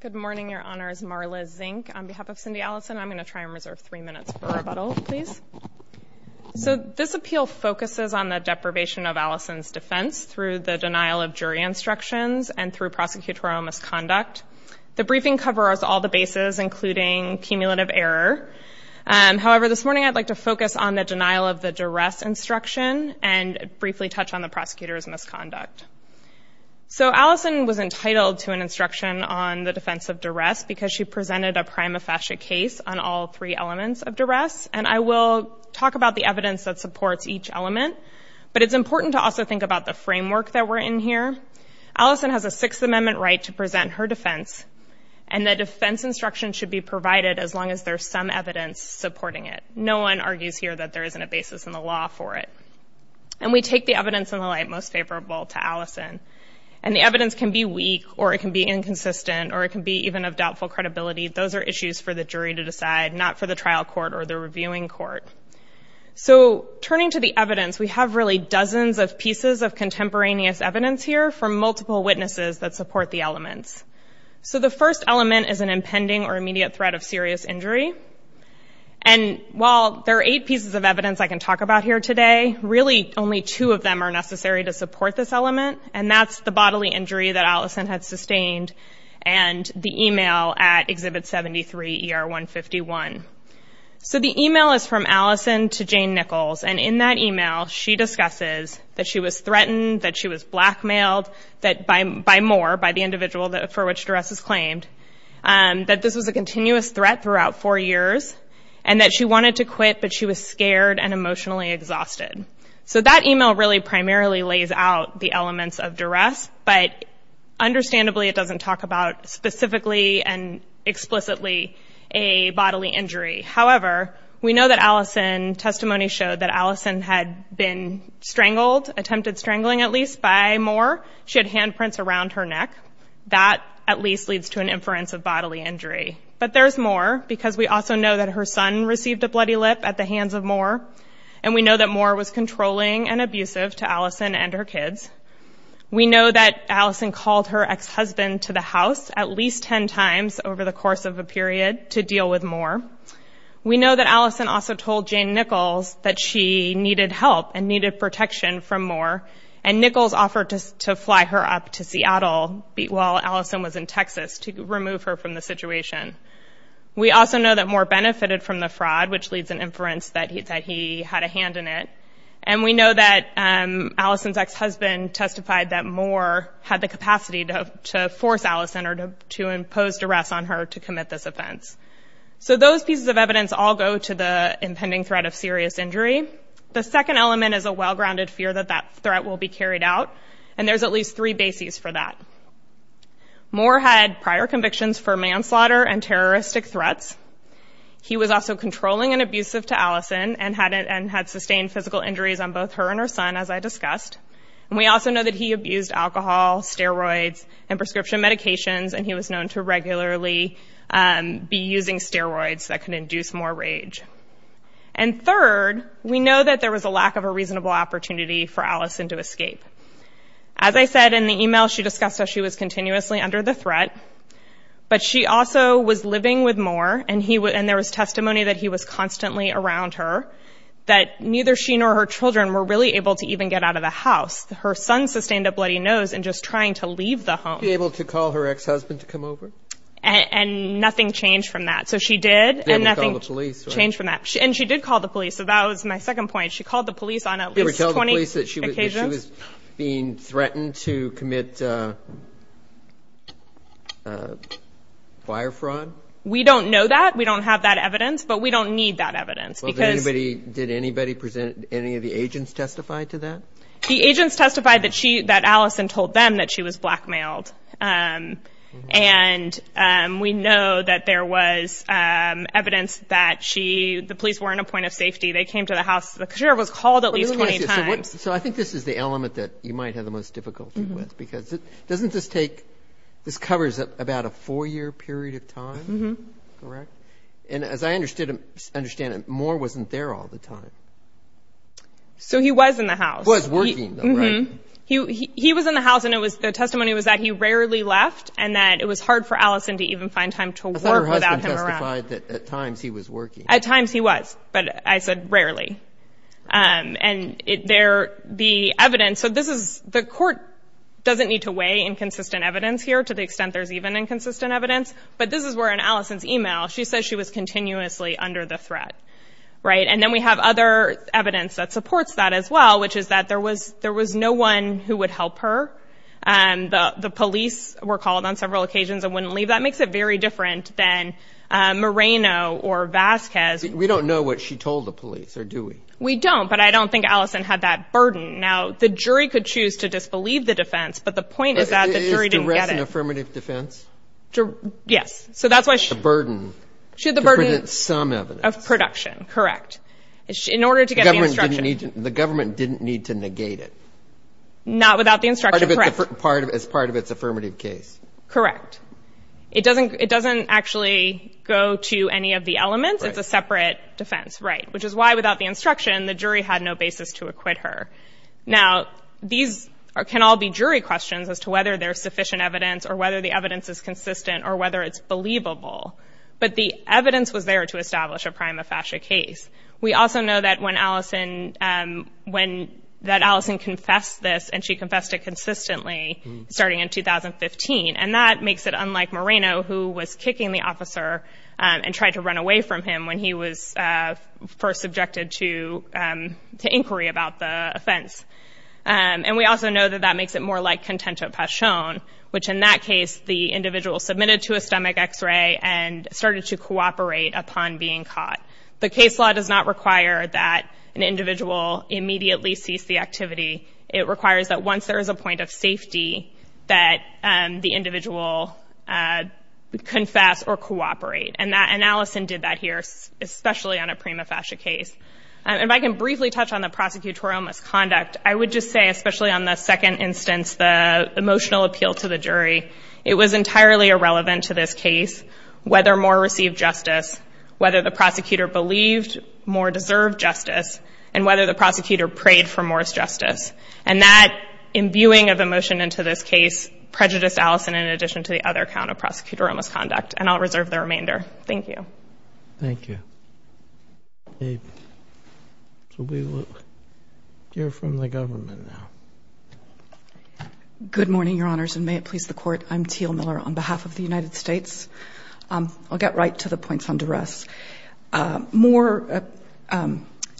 Good morning, Your Honors. Marla Zink on behalf of Cindi Allison. I'm going to try and reserve three minutes for rebuttal, please. So this appeal focuses on the deprivation of Allison's defense through the denial of jury instructions and through prosecutorial misconduct. The briefing covers all the bases including cumulative error. However, this morning I'd like to focus on the denial of the duress instruction and briefly touch on the prosecutor's misconduct. So Allison was entitled to an instruction on the defense of duress because she presented a prima facie case on all three elements of duress. And I will talk about the evidence that supports each element, but it's important to also think about the framework that we're in here. Allison has a Sixth Amendment right to present her defense and the defense instruction should be provided as long as there's some evidence supporting it. No one argues here that there isn't a basis in the law for it. And we take the evidence in the light most favorable to Allison and the evidence can be weak or it can be inconsistent or it can be even of doubtful credibility. Those are issues for the jury to decide, not for the trial court or the reviewing court. So turning to the evidence, we have really dozens of pieces of contemporaneous evidence here from multiple witnesses that support the elements. So the first element is an impending or immediate threat of serious injury. And while there are eight pieces of evidence I can talk about here today, really only two of them are necessary to support this element. And that's the bodily injury that Allison had sustained and the email at Exhibit 73 ER 151. So the email is from Allison to Jane Nichols and in that email she discusses that she was threatened, that she was blackmailed by Moore, by the individual for which duress is claimed, that this was a continuous threat throughout four years and that she wanted to quit but she was scared and emotionally exhausted. So that email really primarily lays out the elements of duress, but understandably it doesn't talk about specifically and explicitly a bodily injury. However, we know that Allison's testimony showed that Allison had been strangled, attempted strangling at least, by Moore. She had handprints around her neck. That at least leads to an inference of bodily injury. But there's more because we also know that her son received a bloody lip at the And we know that Moore was controlling and abusive to Allison and her kids. We know that Allison called her ex-husband to the house at least 10 times over the course of a period to deal with Moore. We know that Allison also told Jane Nichols that she needed help and needed protection from Moore and Nichols offered to fly her up to Seattle while Allison was in Texas to remove her from the situation. We also know that Moore benefited from the fraud, which leads an inference that he had a hand in it. And we know that Allison's ex-husband testified that Moore had the capacity to force Allison or to impose duress on her to commit this offense. So those pieces of evidence all go to the impending threat of serious injury. The second element is a well-grounded fear that that threat will be carried out and there's at least three bases for that. Moore had prior convictions for manslaughter and terroristic threats. He was also controlling and abusive to Allison and had sustained physical injuries on both her and her son, as I discussed. And we also know that he abused alcohol, steroids and prescription medications and he was known to regularly be using steroids that could induce more rage. And third, we know that there was a lack of a reasonable opportunity for Allison to escape. As I said in the email, she discussed how she was continuously under the threat, but she also was living with Moore and there was testimony that he was constantly around her, that neither she nor her children were really able to even get out of the house. Her son sustained a bloody nose in just trying to leave the home. She was able to call her ex-husband to come over? And nothing changed from that. So she did. She was able to call the police, right? And nothing changed from that. And she did call the police. So that was my second point. She called the police on at least 20 occasions. Did she tell the police that she was being threatened to commit fire fraud? We don't know that. We don't have that evidence, but we don't need that evidence because... Did anybody present, any of the agents testify to that? The agents testified that she, that Allison told them that she was blackmailed. And we know that there was evidence that she, the police weren't a point of safety. They came to the house, the courier was called at least 20 times. So I think this is the element that you might have the most difficulty with, because it doesn't just take, this covers about a four-year period of time. Correct? And as I understand it, Moore wasn't there all the time. So he was in the house. Was working, though, right? He was in the house and it was, the testimony was that he rarely left and that it was hard for Allison to even find time to work without him around. I thought her husband testified that at times he was working. At times he was, but I said rarely. And there, the evidence, so this is, the court doesn't need to weigh inconsistent evidence here to the extent there's even inconsistent evidence. But this is where in Allison's email, she says she was continuously under the threat. Right? And then we have other evidence that supports that as well, which is that there was, there was no one who would help her. And the police were called on several occasions and wouldn't leave. That makes it very different than Moreno or Vasquez. We don't know what she told the police or do we? We don't. But I don't think Allison had that burden. Now, the jury could choose to disbelieve the defense. But the point is that the jury didn't get it. Is duress an affirmative defense? Yes. So that's why she. The burden. She had the burden. To present some evidence. Of production. Correct. In order to get the instruction. The government didn't need to negate it. Not without the instruction. Correct. As part of its affirmative case. Correct. It doesn't, it doesn't actually go to any of the elements. It's a separate defense. Right. Which is why without the instruction, the jury had no basis to acquit her. Now, these can all be jury questions as to whether there's sufficient evidence or whether the evidence is consistent or whether it's believable. But the evidence was there to establish a prima facie case. We also know that when Allison, when that Allison confessed this and she confessed it consistently starting in 2015. And that makes it unlike Moreno, who was kicking the officer and tried to run away from him when he was first subjected to inquiry about the offense. And we also know that that makes it more like content of passion, which in that case, the individual submitted to a stomach X-ray and started to cooperate upon being caught. The case law does not require that an individual immediately cease the activity. It requires that once there is a point of safety that the individual confess or cooperate. And that, and Allison did that here, especially on a prima facie case. And if I can briefly touch on the prosecutorial misconduct, I would just say, especially on the second instance, the emotional appeal to the jury, it was entirely irrelevant to this case whether More received justice, whether the prosecutor believed More deserved justice, and whether the prosecutor prayed for More's justice. And that imbuing of emotion into this case prejudiced Allison in addition to the other count of prosecutorial misconduct. And I'll reserve the remainder. Thank you. Thank you. So we will hear from the government now. Good morning, Your Honors, and may it please the Court. I'm Teal Miller on behalf of the United States. I'll get right to the points on duress. More,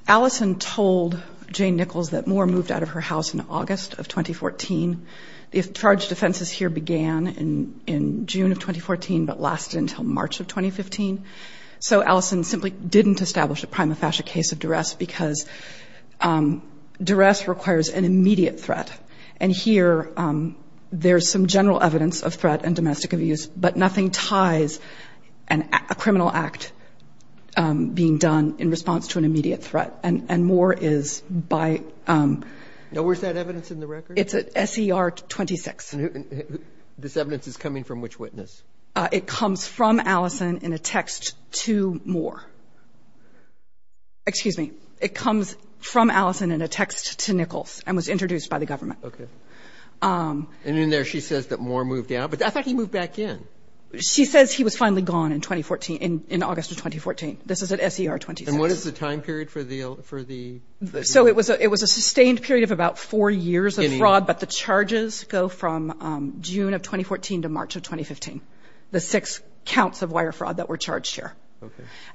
Allison told Jane Nichols that More moved out of her house in August of 2014. The charged offenses here began in June of 2014, but lasted until March of 2015. So Allison simply didn't establish a prima facie case of duress because duress requires an immediate threat. And here, there's some general evidence of threat and domestic abuse, but nothing ties a criminal act being done in response to an immediate threat. And More is by... Now, where's that evidence in the record? It's at SER 26. This evidence is coming from which witness? It comes from Allison in a text to More. Excuse me. It comes from Allison in a text to Nichols and was introduced by the government. Okay. And in there, she says that More moved out, but I thought he moved back in. She says he was finally gone in 2014, in August of 2014. This is at SER 26. And what is the time period for the... So it was a sustained period of about four years of fraud, but the charges go from June of 2014 to March of 2015, the six counts of wire fraud that were charged here.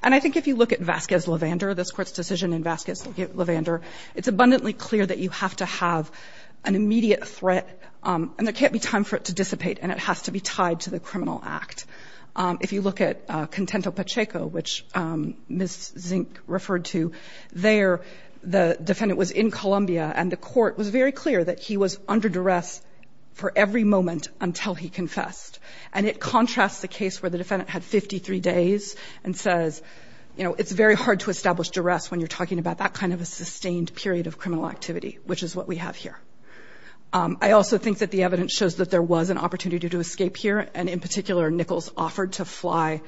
And I think if you look at Vasquez-Levander, this court's decision in Vasquez-Levander, it's abundantly clear that you have to have an immediate threat and there can't be time for it to dissipate and it has to be tied to the criminal act. If you look at Contento-Pacheco, which Ms. Zink referred to, there, the defendant was in Colombia and the court was very clear that he was under duress for every moment until he confessed. And it contrasts the case where the defendant had 53 days and says, you know, it's very hard to establish duress when you're talking about that kind of a sustained period of criminal activity, which is what we have here. I also think that the evidence shows that there was an opportunity to escape here and in particular, Nichols offered to fly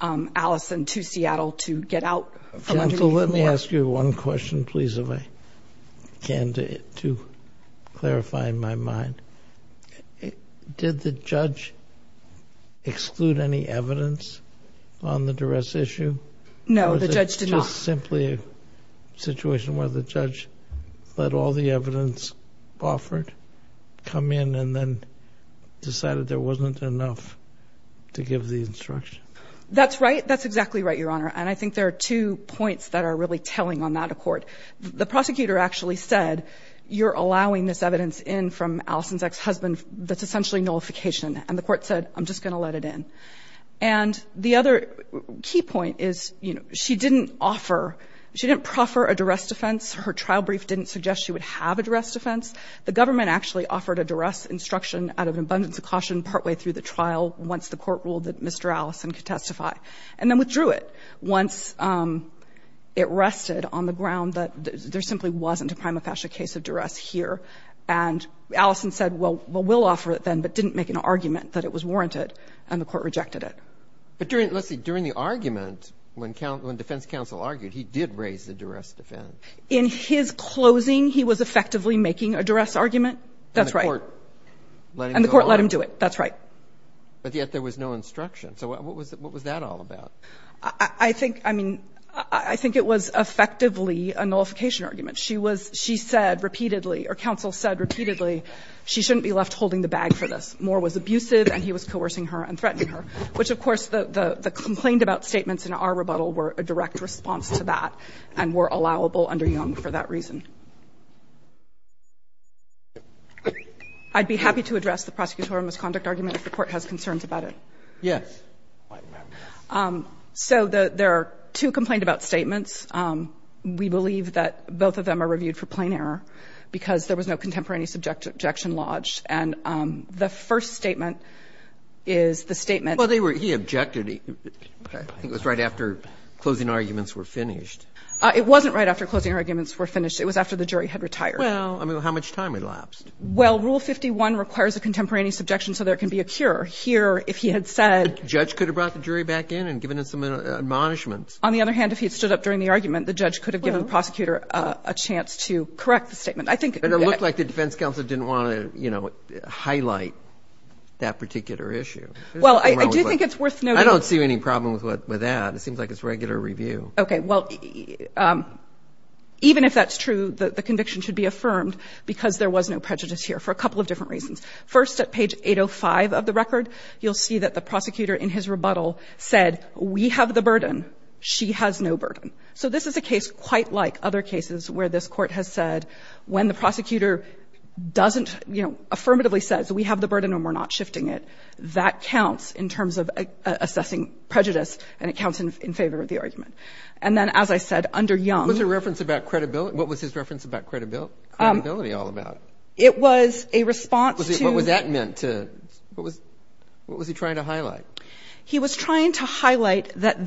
Allison to Seattle to get out from under the floor. Let me ask you one question, please, if I can, to clarify in my mind. Did the judge exclude any evidence on the duress issue? No, the judge did not. It's simply a situation where the judge let all the evidence offered, come in and then decided there wasn't enough to give the instruction. That's right. That's exactly right, Your Honor. And I think there are two points that are really telling on that accord. The prosecutor actually said, you're allowing this evidence in from Allison's ex-husband, that's essentially nullification. And the court said, I'm just going to let it in. And the other key point is, you know, she didn't offer, she didn't proffer a duress defense. Her trial brief didn't suggest she would have a duress defense. The government actually offered a duress instruction out of an abundance of caution partway through the trial once the court ruled that Mr. Allison could testify and then withdrew it once it rested on the ground that there simply wasn't a prima facie case of duress here. And Allison said, well, we'll offer it then, but didn't make an argument that it was a duress defense. She rejected it. But during, let's see, during the argument, when defense counsel argued, he did raise the duress defense. In his closing, he was effectively making a duress argument. That's right. And the court let him go on. And the court let him do it. That's right. But yet there was no instruction. So what was that all about? I think, I mean, I think it was effectively a nullification argument. She was, she said repeatedly, or counsel said repeatedly, she shouldn't be left holding the bag for this. Moore was abusive, and he was coercing her and threatening her, which, of course, the complained-about statements in our rebuttal were a direct response to that and were allowable under Young for that reason. I'd be happy to address the prosecutorial misconduct argument if the Court has concerns about it. Yes. So there are two complained-about statements. We believe that both of them are reviewed for plain error because there was no contemporaneous objection lodged. And the first statement is the statement they were he objected. I think it was right after closing arguments were finished. It wasn't right after closing arguments were finished. It was after the jury had retired. Well, I mean, how much time elapsed? Well, Rule 51 requires a contemporaneous objection, so there can be a cure. Here, if he had said. The judge could have brought the jury back in and given him some admonishments. On the other hand, if he had stood up during the argument, the judge could have given the prosecutor a chance to correct the statement. But it looked like the defense counsel didn't want to, you know, highlight that particular issue. Well, I do think it's worth noting. I don't see any problem with that. It seems like it's regular review. Okay. Well, even if that's true, the conviction should be affirmed because there was no prejudice here for a couple of different reasons. First, at page 805 of the record, you'll see that the prosecutor, in his rebuttal, said, we have the burden, she has no burden. So this is a case quite like other cases where this court has said, when the prosecutor doesn't, you know, affirmatively says, we have the burden and we're not shifting it, that counts in terms of assessing prejudice and it counts in favor of the argument. And then, as I said, under Young. What's the reference about credibility? What was his reference about credibility all about? It was a response to. What was that meant to? What was he trying to highlight? He was trying to highlight that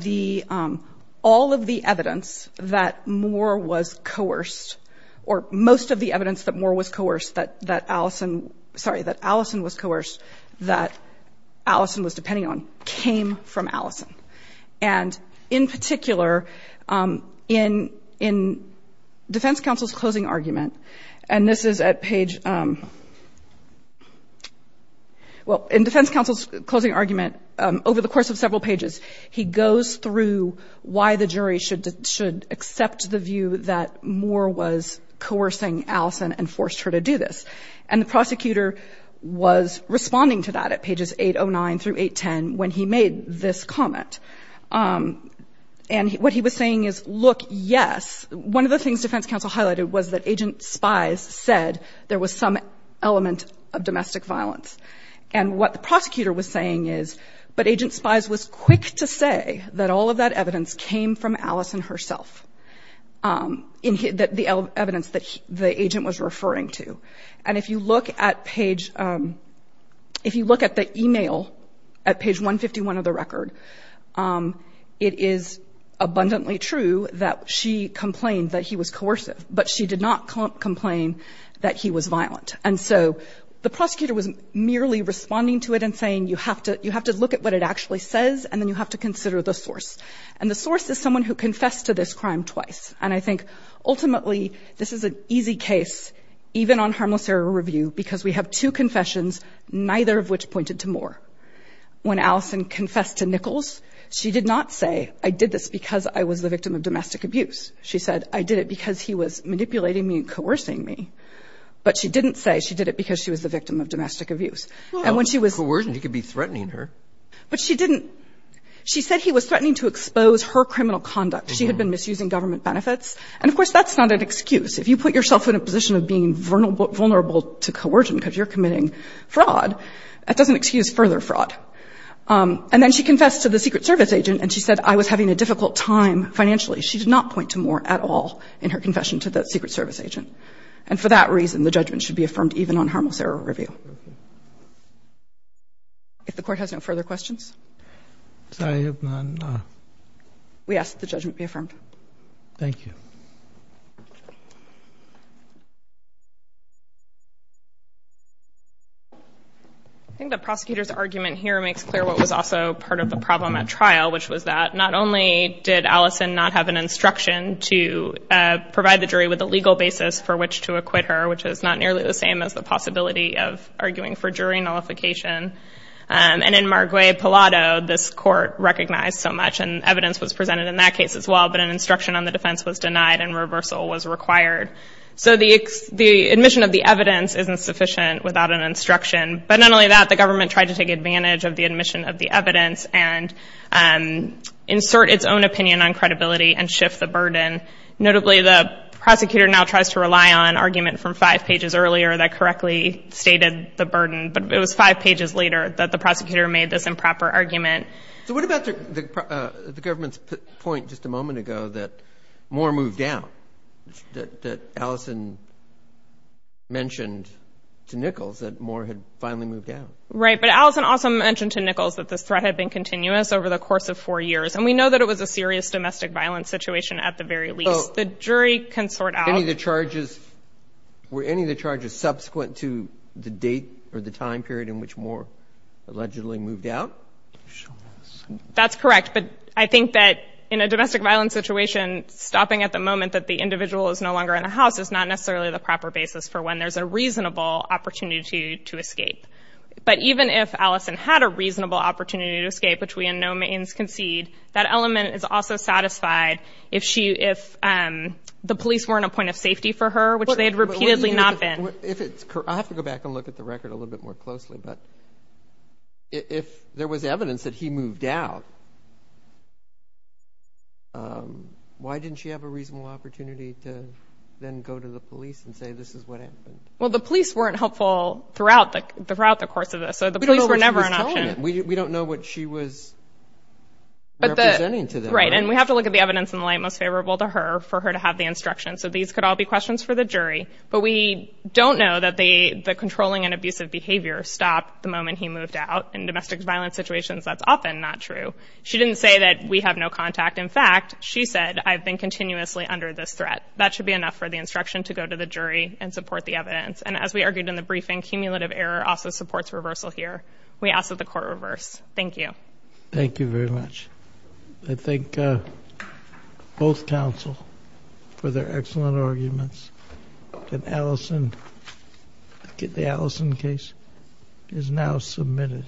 all of the evidence that Moore was coerced, or most of the evidence that Moore was coerced, that Allison, sorry, that Allison was coerced, that Allison was depending on, came from Allison. And in particular, in defense counsel's closing argument, and this is at page, well, in defense counsel's closing argument, over the course of several pages, he goes through why the jury should accept the view that Moore was coercing Allison and forced her to do this. And the prosecutor was responding to that at pages 809 through 810 when he made this comment. And what he was saying is, look, yes, one of the things defense counsel highlighted was that agent spies said there was some element of domestic violence. And what the prosecutor was saying is, but agent spies was quick to say that all of that evidence came from Allison herself, the evidence that the agent was referring to. And if you look at page, if you look at the email at page 151 of the record, it is abundantly true that she complained that he was coercive, but she did not complain that he was violent. And so the prosecutor was merely responding to it and saying, you have to look at what it actually says, and then you have to consider the source. And the source is someone who confessed to this crime twice. And I think, ultimately, this is an easy case, even on harmless error review, because we have two confessions, neither of which pointed to Moore. When Allison confessed to Nichols, she did not say, I did this because I was the victim of domestic abuse. She said, I did it because he was manipulating me and coercing me. But she didn't say she did it because she was the victim of domestic abuse. And when she was ‑‑ Well, coercion, he could be threatening her. But she didn't ‑‑ she said he was threatening to expose her criminal conduct. She had been misusing government benefits. And, of course, that's not an excuse. If you put yourself in a position of being vulnerable to coercion because you're committing fraud, that doesn't excuse further fraud. And then she confessed to the Secret Service agent, and she said, I was having a difficult time financially. She did not point to Moore at all in her confession to the Secret Service agent. And for that reason, the judgment should be affirmed even on harmless error review. Okay. If the Court has no further questions? I have none. We ask that the judgment be affirmed. Thank you. I think the prosecutor's argument here makes clear what was also part of the problem at trial, which was that not only did Allison not have an instruction to provide the jury with a legal basis for which to acquit her, which is not nearly the same as the possibility of arguing for jury nullification, and in Marguerite Pallado, this Court recognized so much, and evidence was presented in that case as well, but an instruction on the defense was denied and reversal was required. So the admission of the evidence isn't sufficient without an instruction. But not only that, the government tried to take advantage of the admission of the evidence and insert its own opinion on credibility and shift the burden. Notably, the prosecutor now tries to rely on an argument from five pages earlier that correctly stated the burden, but it was five pages later that the prosecutor made this improper argument. So what about the government's point just a moment ago that Moore moved down, that Allison mentioned to Nichols that Moore had finally moved down? Right, but Allison also mentioned to Nichols that this threat had been continuous over the course of four years, and we know that it was a serious domestic violence situation at the very least. The jury can sort out – So were any of the charges subsequent to the date or the time period in which Moore allegedly moved out? That's correct, but I think that in a domestic violence situation, stopping at the moment that the individual is no longer in the house is not necessarily the proper basis for when there's a reasonable opportunity to escape. But even if Allison had a reasonable opportunity to escape, which we in no means concede, that if the police weren't a point of safety for her, which they had repeatedly not been – I have to go back and look at the record a little bit more closely, but if there was evidence that he moved out, why didn't she have a reasonable opportunity to then go to the police and say this is what happened? Well, the police weren't helpful throughout the course of this, so the police were never an option. We don't know what she was representing to them. And we have to look at the evidence in the light most favorable to her for her to have the instruction. So these could all be questions for the jury, but we don't know that the controlling and abusive behavior stopped the moment he moved out. In domestic violence situations, that's often not true. She didn't say that we have no contact. In fact, she said, I've been continuously under this threat. That should be enough for the instruction to go to the jury and support the evidence. And as we argued in the briefing, cumulative error also supports reversal here. We ask that the court reverse. Thank you. Thank you very much. I thank both counsel for their excellent arguments. And Allison, the Allison case is now submitted.